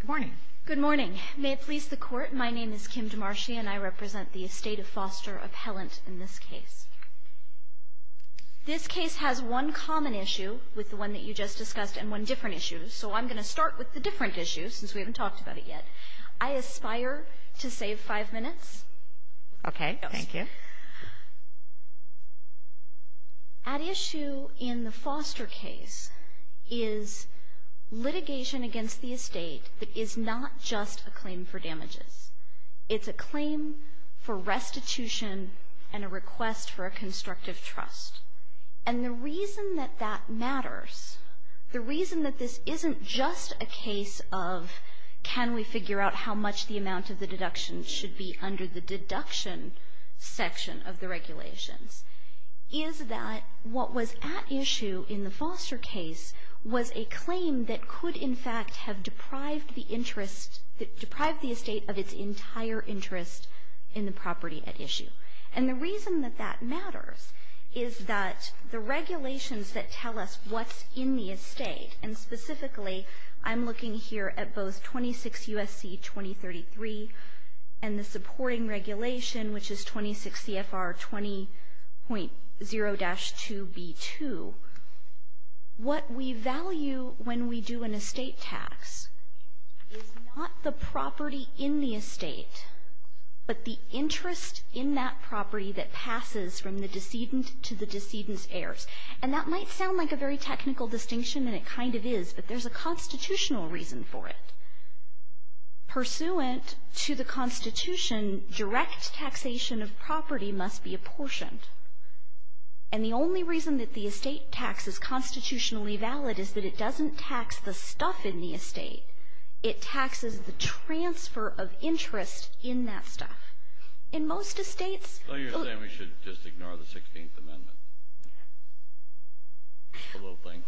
Good morning. Good morning. May it please the court, my name is Kim DeMarshi and I represent the estate of Foster Appellant in this case. This case has one common issue with the one that you just discussed and one different issue, so I'm going to start with the different issue since we haven't talked about it yet. I aspire to save five minutes. Okay, thank you. At issue in the Foster case is litigation against the estate that is not just a claim for damages. It's a claim for restitution and a request for a constructive trust. And the reason that that matters, the reason that this isn't just a case of can we figure out how much the amount of the deduction should be under the deduction section of the regulations, is that what was at issue in the Foster case was a claim that could in fact have deprived the estate of its entire interest in the property at issue. And the reason that that matters is that the regulations that tell us what's in the estate, and specifically I'm looking here at both 26 U.S.C. 2033 and the supporting regulation, which is 26 CFR 20.0-2B2, what we value when we do an estate tax is not the property in the estate, but the interest in that property that passes from the decedent to the decedent's heirs. And that might sound like a very technical distinction, and it kind of is, but there's a constitutional reason for it. Pursuant to the Constitution, direct taxation of property must be apportioned. And the only reason that the estate tax is constitutionally valid is that it doesn't tax the stuff in the estate. It taxes the transfer of interest in that stuff. In most estates — Well, you're saying we should just ignore the 16th Amendment, the little thing?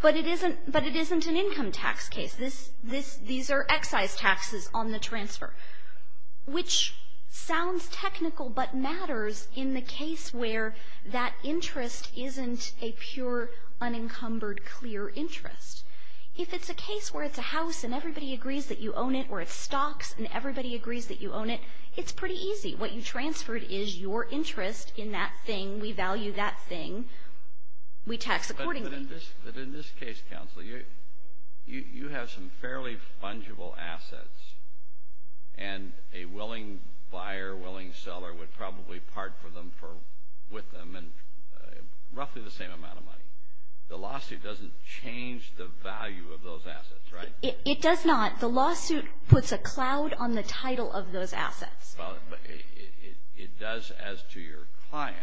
But it isn't an income tax case. These are excise taxes on the transfer. Which sounds technical but matters in the case where that interest isn't a pure, unencumbered, clear interest. If it's a case where it's a house and everybody agrees that you own it, or it's stocks and everybody agrees that you own it, it's pretty easy. What you transferred is your interest in that thing. We value that thing. We tax accordingly. But in this case, Counsel, you have some fairly fungible assets, and a willing buyer, willing seller, would probably part with them in roughly the same amount of money. The lawsuit doesn't change the value of those assets, right? It does not. The lawsuit puts a cloud on the title of those assets. It does as to your client.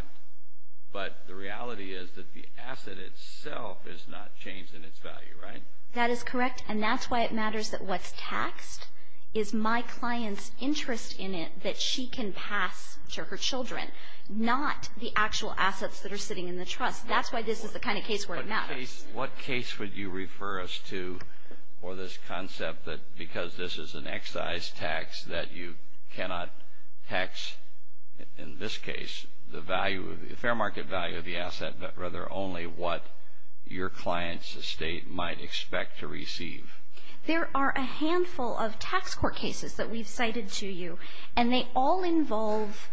But the reality is that the asset itself is not changed in its value, right? That is correct. And that's why it matters that what's taxed is my client's interest in it that she can pass to her children, not the actual assets that are sitting in the trust. That's why this is the kind of case where it matters. What case would you refer us to for this concept that because this is an excise tax that you cannot tax, in this case, the fair market value of the asset, but rather only what your client's estate might expect to receive? There are a handful of tax court cases that we've cited to you, and they all involve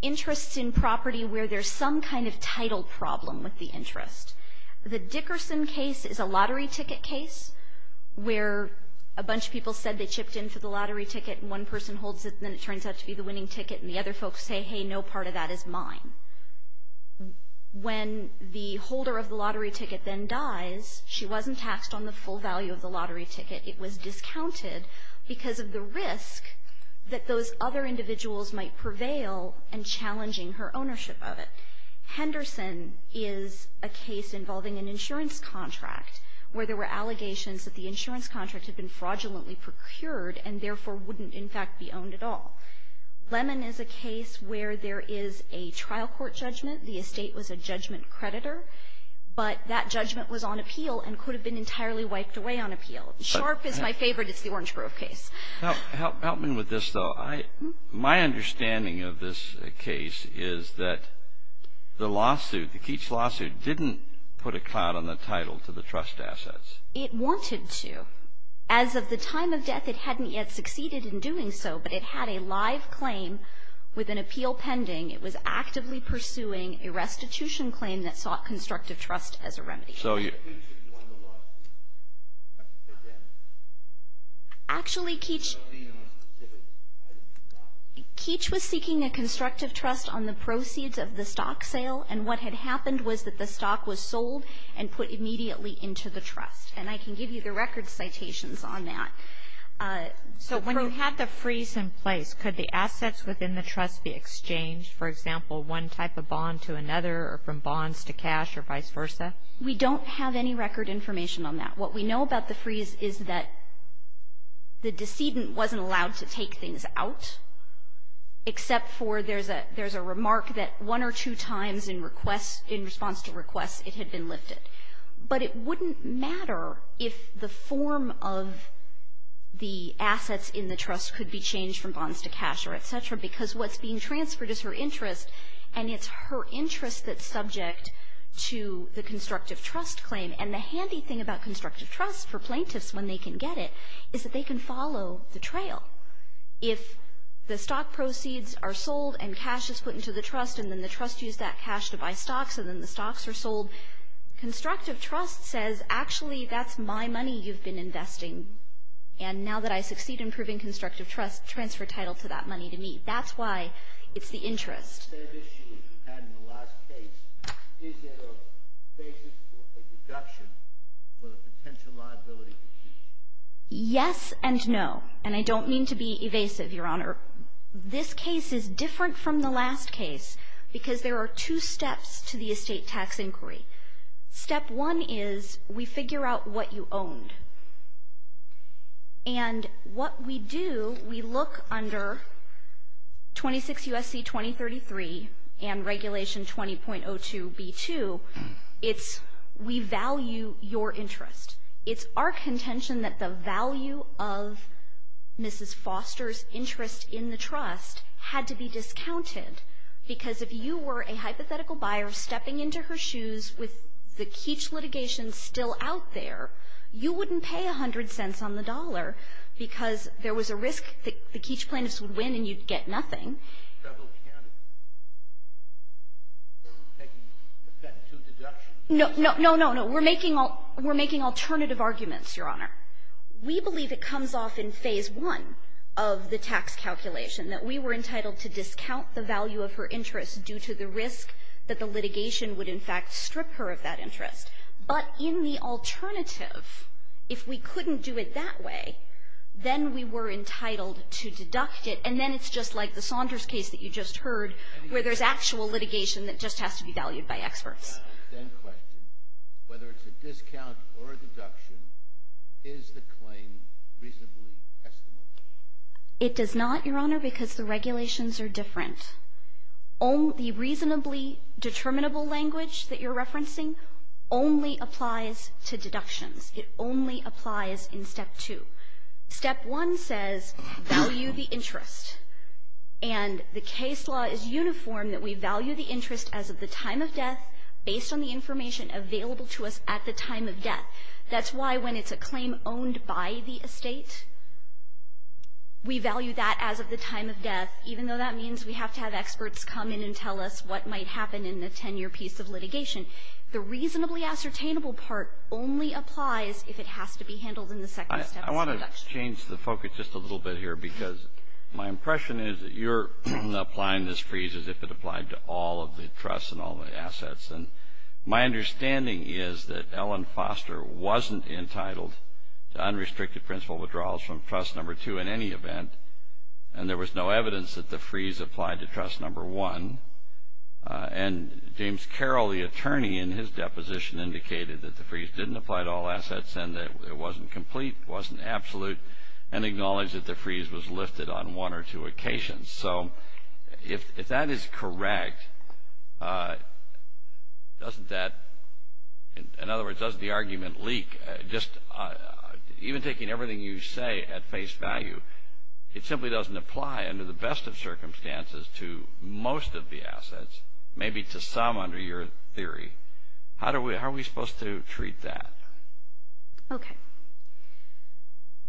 interests in property where there's some kind of title problem with the interest. The Dickerson case is a lottery ticket case where a bunch of people said they chipped in for the lottery ticket, and one person holds it, and then it turns out to be the winning ticket, and the other folks say, hey, no part of that is mine. When the holder of the lottery ticket then dies, she wasn't taxed on the full value of the lottery ticket. It was discounted because of the risk that those other individuals might prevail in challenging her ownership of it. Henderson is a case involving an insurance contract where there were allegations that the insurance contract had been fraudulently procured and therefore wouldn't, in fact, be owned at all. Lemon is a case where there is a trial court judgment. The estate was a judgment creditor, but that judgment was on appeal and could have been entirely wiped away on appeal. Sharp is my favorite. It's the Orange Grove case. Help me with this, though. My understanding of this case is that the Keats lawsuit didn't put a cloud on the title to the trust assets. It wanted to. As of the time of death, it hadn't yet succeeded in doing so, but it had a live claim with an appeal pending. It was actively pursuing a restitution claim that sought constructive trust as a remedy. So you. Actually, Keats was seeking a constructive trust on the proceeds of the stock sale, and what had happened was that the stock was sold and put immediately into the trust. And I can give you the record citations on that. So when you had the freeze in place, could the assets within the trust be exchanged, for example, one type of bond to another or from bonds to cash or vice versa? We don't have any record information on that. What we know about the freeze is that the decedent wasn't allowed to take things out, except for there's a remark that one or two times in response to requests it had been lifted. But it wouldn't matter if the form of the assets in the trust could be changed from bonds to cash or et cetera, because what's being transferred is her interest, and it's her interest that's subject to the constructive trust claim. And the handy thing about constructive trust for plaintiffs, when they can get it, is that they can follow the trail. If the stock proceeds are sold and cash is put into the trust and then the trust used that cash to buy stocks and then the stocks are sold, constructive trust says, actually, that's my money you've been investing, and now that I succeed in proving constructive trust, transfer title to that money to me. That's why it's the interest. The third issue that you had in the last case, is there a basis for a deduction with a potential liability? Yes and no, and I don't mean to be evasive, Your Honor. This case is different from the last case because there are two steps to the estate tax inquiry. Step one is we figure out what you owned. And what we do, we look under 26 U.S.C. 2033 and Regulation 20.02b2. It's we value your interest. It's our contention that the value of Mrs. Foster's interest in the trust had to be discounted, because if you were a hypothetical buyer stepping into her shoes with the Keech litigation still out there, you wouldn't pay 100 cents on the dollar because there was a risk that the Keech plaintiffs would win and you'd get nothing. Several candidates taking effect to deduction. No, no, no, no, no. We're making alternative arguments, Your Honor. We believe it comes off in phase one of the tax calculation that we were entitled to discount the value of her interest due to the risk that the litigation would in fact strip her of that interest. But in the alternative, if we couldn't do it that way, then we were entitled to deduct it, and then it's just like the Saunders case that you just heard where there's actual litigation that just has to be valued by experts. I have a second question. Whether it's a discount or a deduction, is the claim reasonably estimable? It does not, Your Honor, because the regulations are different. The reasonably determinable language that you're referencing only applies to deductions. It only applies in step two. Step one says value the interest. And the case law is uniform that we value the interest as of the time of death based on the information available to us at the time of death. That's why when it's a claim owned by the estate, we value that as of the time of death, even though that means we have to have experts come in and tell us what might happen in the 10-year piece of litigation. The reasonably ascertainable part only applies if it has to be handled in the second step. I want to change the focus just a little bit here because my impression is that you're applying this freeze as if it applied to all of the trusts and all of the assets. And my understanding is that Ellen Foster wasn't entitled to unrestricted principal withdrawals from trust number two in any event, and there was no evidence that the freeze applied to trust number one. And James Carroll, the attorney in his deposition, indicated that the freeze didn't apply to all assets and that it wasn't complete, wasn't absolute, and acknowledged that the freeze was lifted on one or two occasions. So if that is correct, doesn't that, in other words, doesn't the argument leak? Even taking everything you say at face value, it simply doesn't apply under the best of circumstances to most of the assets, maybe to some under your theory. How are we supposed to treat that? Okay.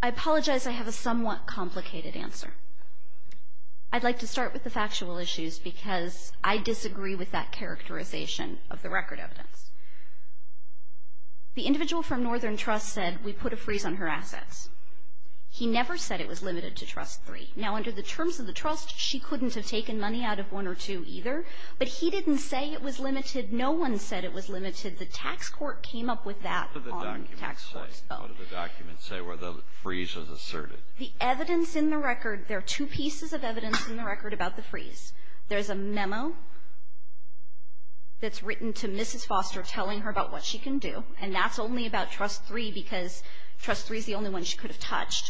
I apologize I have a somewhat complicated answer. I'd like to start with the factual issues because I disagree with that characterization of the record evidence. The individual from Northern Trust said, we put a freeze on her assets. He never said it was limited to trust three. Now, under the terms of the trust, she couldn't have taken money out of one or two either, but he didn't say it was limited. No one said it was limited. The tax court came up with that on the tax court. What did the documents say where the freeze was asserted? The evidence in the record, there are two pieces of evidence in the record about the freeze. There's a memo that's written to Mrs. Foster telling her about what she can do, and that's only about trust three because trust three is the only one she could have touched.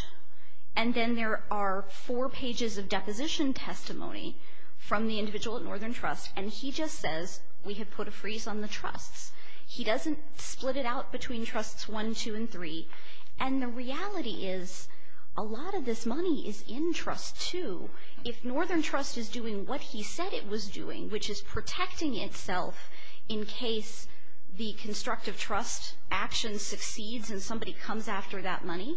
And then there are four pages of deposition testimony from the individual at Northern Trust, and he just says, we have put a freeze on the trusts. He doesn't split it out between trusts one, two, and three. And the reality is, a lot of this money is in trust two. If Northern Trust is doing what he said it was doing, which is protecting itself in case the constructive trust action succeeds and somebody comes after that money,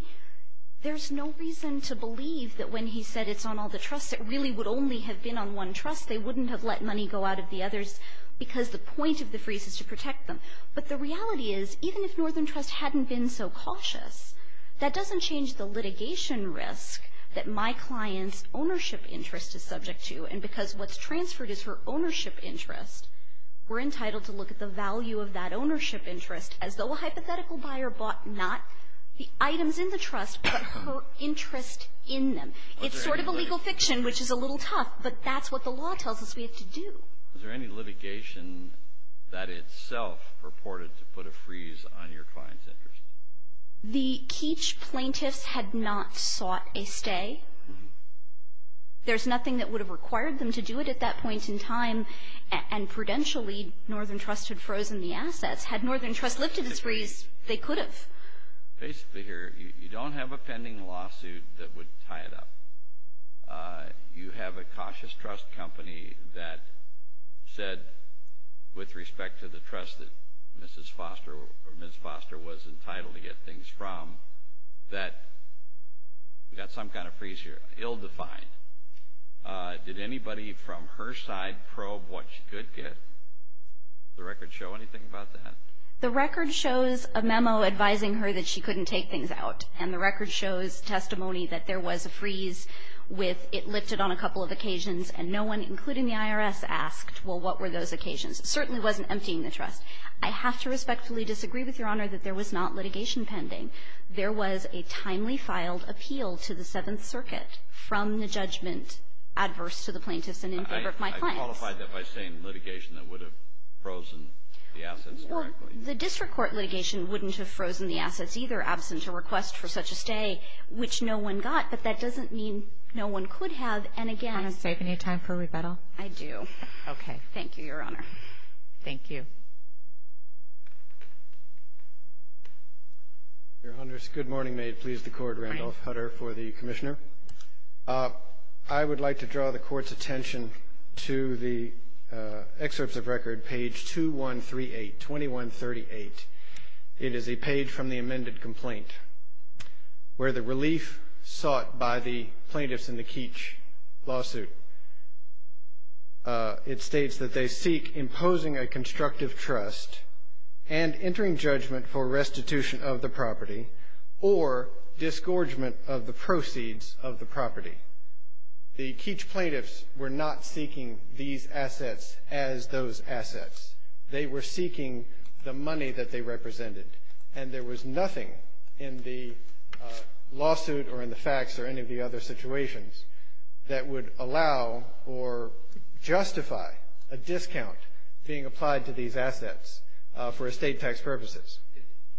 there's no reason to believe that when he said it's on all the trusts, it really would only have been on one trust. They wouldn't have let money go out of the others because the point of the freeze is to protect them. But the reality is, even if Northern Trust hadn't been so cautious, that doesn't change the litigation risk that my client's ownership interest is subject to, and because what's transferred is her ownership interest, we're entitled to look at the value of that ownership interest as though a hypothetical buyer bought not the items in the trust, but her interest in them. It's sort of a legal fiction, which is a little tough, but that's what the law tells us we have to do. Is there any litigation that itself purported to put a freeze on your client's interest? The Keech plaintiffs had not sought a stay. There's nothing that would have required them to do it at that point in time, and prudentially, Northern Trust had frozen the assets. Had Northern Trust lifted its freeze, they could have. Basically here, you don't have a pending lawsuit that would tie it up. You have a cautious trust company that said, with respect to the trust that Mrs. Foster was entitled to get things from, that we've got some kind of freeze here, ill-defined. Did anybody from her side probe what she could get? Does the record show anything about that? The record shows a memo advising her that she couldn't take things out, and the record shows testimony that there was a freeze with it lifted on a couple of occasions, and no one, including the IRS, asked, well, what were those occasions? It certainly wasn't emptying the trust. I have to respectfully disagree with Your Honor that there was not litigation pending. There was a timely filed appeal to the Seventh Circuit from the judgment adverse to the plaintiffs and in favor of my clients. I qualified that by saying litigation that would have frozen the assets directly. The district court litigation wouldn't have frozen the assets either, absent a request for such a stay, which no one got. But that doesn't mean no one could have. And, again — Do you want to save any time for rebuttal? I do. Okay. Thank you, Your Honor. Thank you. Your Honor, good morning. May it please the Court. Randolph Hutter for the Commissioner. I would like to draw the Court's attention to the excerpts of record, page 2138, 2138. It is a page from the amended complaint where the relief sought by the plaintiffs in the Keech lawsuit, it states that they seek imposing a constructive trust and entering judgment for restitution of the property or disgorgement of the proceeds of the property. The Keech plaintiffs were not seeking these assets as those assets. They were seeking the money that they represented, and there was nothing in the lawsuit or in the facts or any of the other situations that would allow or justify a discount being applied to these assets for estate tax purposes.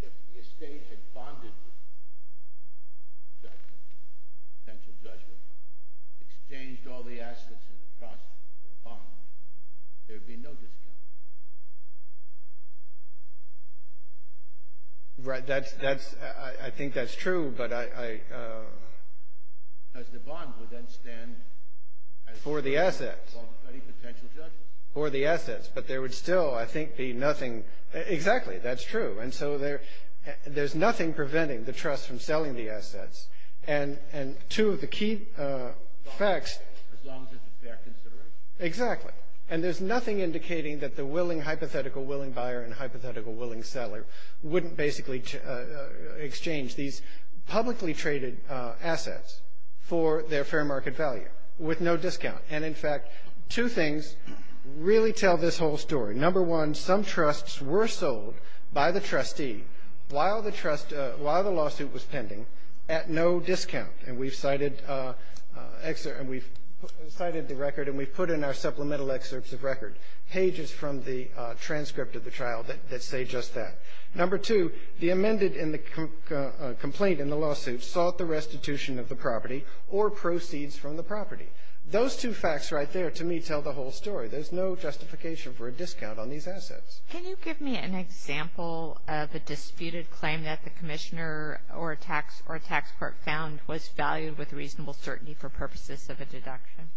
If the estate had bonded judgment, potential judgment, exchanged all the assets in the process for a bond, there would be no discount. Right. That's — I think that's true, but I — Because the bond would then stand as — For the assets. Well, any potential judgment. For the assets. But there would still, I think, be nothing — exactly. That's true. And so there's nothing preventing the trust from selling the assets. And two of the key facts — As long as it's a fair consideration. Exactly. And there's nothing indicating that the willing, hypothetical willing buyer and hypothetical willing seller wouldn't basically exchange these publicly traded assets for their fair market value with no discount. And, in fact, two things really tell this whole story. Number one, some trusts were sold by the trustee while the lawsuit was pending at no discount. And we've cited the record and we've put in our supplemental excerpts of record, pages from the transcript of the trial that say just that. Number two, the amended complaint in the lawsuit sought the restitution of the property or proceeds from the property. Those two facts right there, to me, tell the whole story. There's no justification for a discount on these assets. Can you give me an example of a disputed claim that the commissioner or tax court found was valued with reasonable certainty for purposes of a deduction?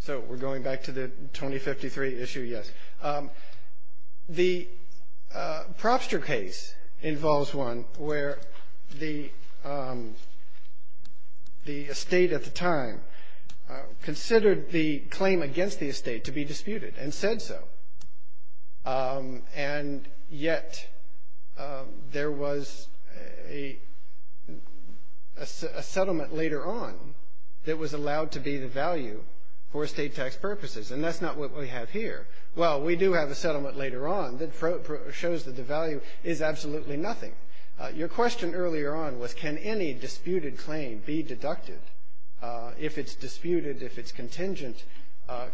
So we're going back to the 2053 issue, yes. The Propster case involves one where the estate at the time considered the claim against the estate to be disputed and said so. And yet there was a settlement later on that was allowed to be the value for estate tax purposes. And that's not what we have here. Well, we do have a settlement later on that shows that the value is absolutely nothing. Your question earlier on was can any disputed claim be deducted? If it's disputed, if it's contingent,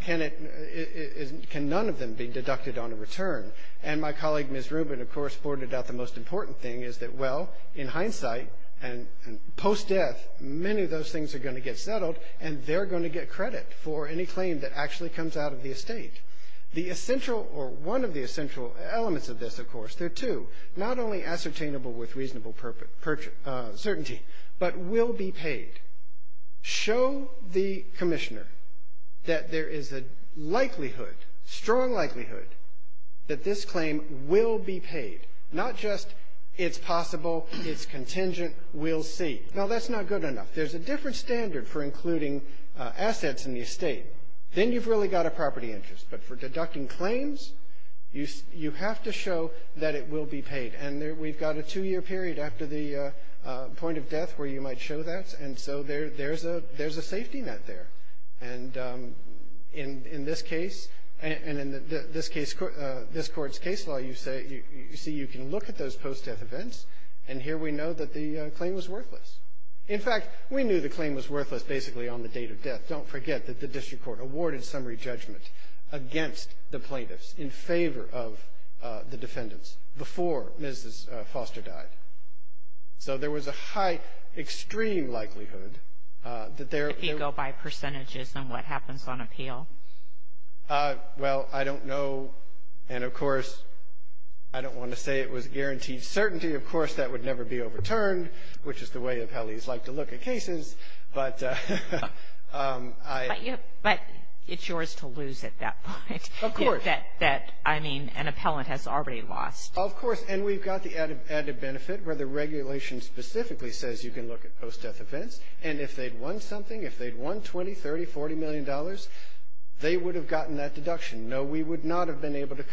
can none of them be deducted on a return? And my colleague, Ms. Rubin, of course, pointed out the most important thing is that, well, in hindsight and post-death, many of those things are going to get settled and they're going to get credit for any claim that actually comes out of the estate. The essential or one of the essential elements of this, of course, there are two, not only ascertainable with reasonable certainty but will be paid. Show the commissioner that there is a likelihood, strong likelihood, that this claim will be paid. Not just it's possible, it's contingent, we'll see. Now, that's not good enough. There's a different standard for including assets in the estate. Then you've really got a property interest. But for deducting claims, you have to show that it will be paid. And we've got a two-year period after the point of death where you might show that. And so there's a safety net there. And in this case, and in this court's case law, you see you can look at those post-death events, and here we know that the claim was worthless. In fact, we knew the claim was worthless basically on the date of death. Don't forget that the district court awarded summary judgment against the plaintiffs in favor of the defendants before Mrs. Foster died. So there was a high, extreme likelihood that there – If you go by percentages, then what happens on appeal? Well, I don't know. And, of course, I don't want to say it was guaranteed certainty. Of course, that would never be overturned, which is the way appellees like to look at cases. But I – But it's yours to lose at that point. Of course. That, I mean, an appellant has already lost. Of course. And we've got the added benefit where the regulation specifically says you can look at post-death events. And if they'd won something, if they'd won $20, $30, $40 million, they would have gotten that deduction. No, we would not have been able to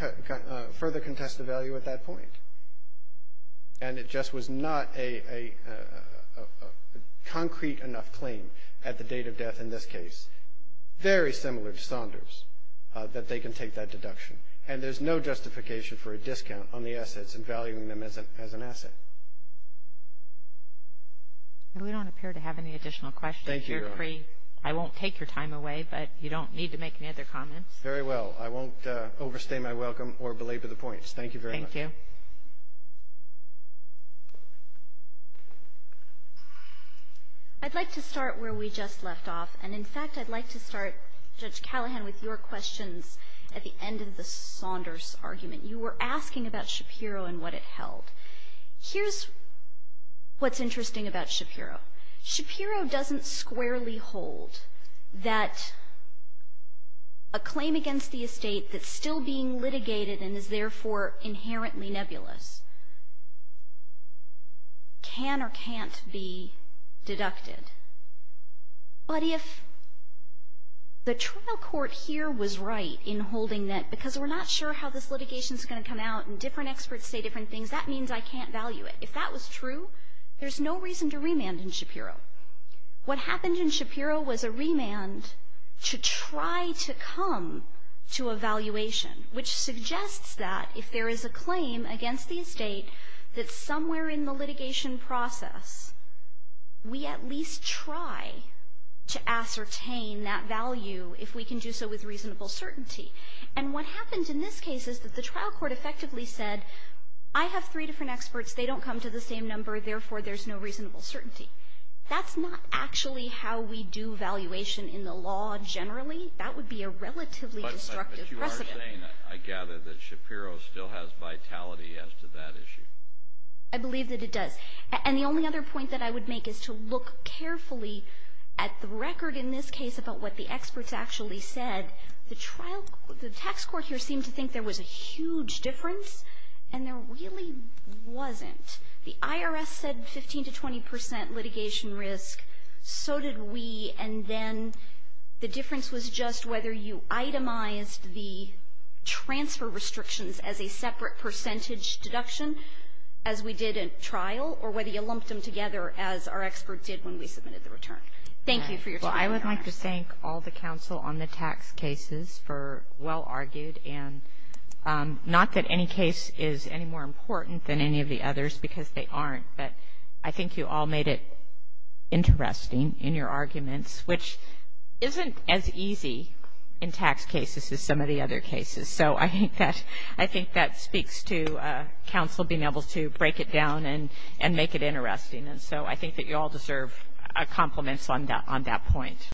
further contest the value at that point. And it just was not a concrete enough claim at the date of death in this case, very similar to Saunders, that they can take that deduction. And there's no justification for a discount on the assets and valuing them as an asset. We don't appear to have any additional questions here, Cree. Thank you, Your Honor. I won't take your time away, but you don't need to make any other comments. Very well. I won't overstay my welcome or belabor the points. Thank you very much. Thank you. I'd like to start where we just left off. And, in fact, I'd like to start, Judge Callahan, with your questions at the end of the Saunders argument. You were asking about Shapiro and what it held. Here's what's interesting about Shapiro. Shapiro doesn't squarely hold that a claim against the estate that's still being litigated and is therefore inherently nebulous can or can't be deducted. But if the trial court here was right in holding that, because we're not sure how this litigation is going to come out and different experts say different things, that means I can't value it. If that was true, there's no reason to remand in Shapiro. What happened in Shapiro was a remand to try to come to a valuation, which suggests that if there is a claim against the estate that's somewhere in the litigation process, we at least try to ascertain that value if we can do so with reasonable certainty. And what happened in this case is that the trial court effectively said, I have three different experts. They don't come to the same number. Therefore, there's no reasonable certainty. That's not actually how we do valuation in the law generally. That would be a relatively destructive precedent. But you are saying, I gather, that Shapiro still has vitality as to that issue. I believe that it does. And the only other point that I would make is to look carefully at the record in this case about what the experts actually said. The tax court here seemed to think there was a huge difference, and there really wasn't. The IRS said 15 to 20 percent litigation risk. So did we. And then the difference was just whether you itemized the transfer restrictions as a separate percentage deduction as we did at trial, or whether you lumped them together as our experts did when we submitted the return. Thank you for your time. Well, I would like to thank all the counsel on the tax cases for well-argued, and not that any case is any more important than any of the others because they aren't. But I think you all made it interesting in your arguments, which isn't as easy in tax cases as some of the other cases. So I think that speaks to counsel being able to break it down and make it interesting. And so I think that you all deserve compliments on that point.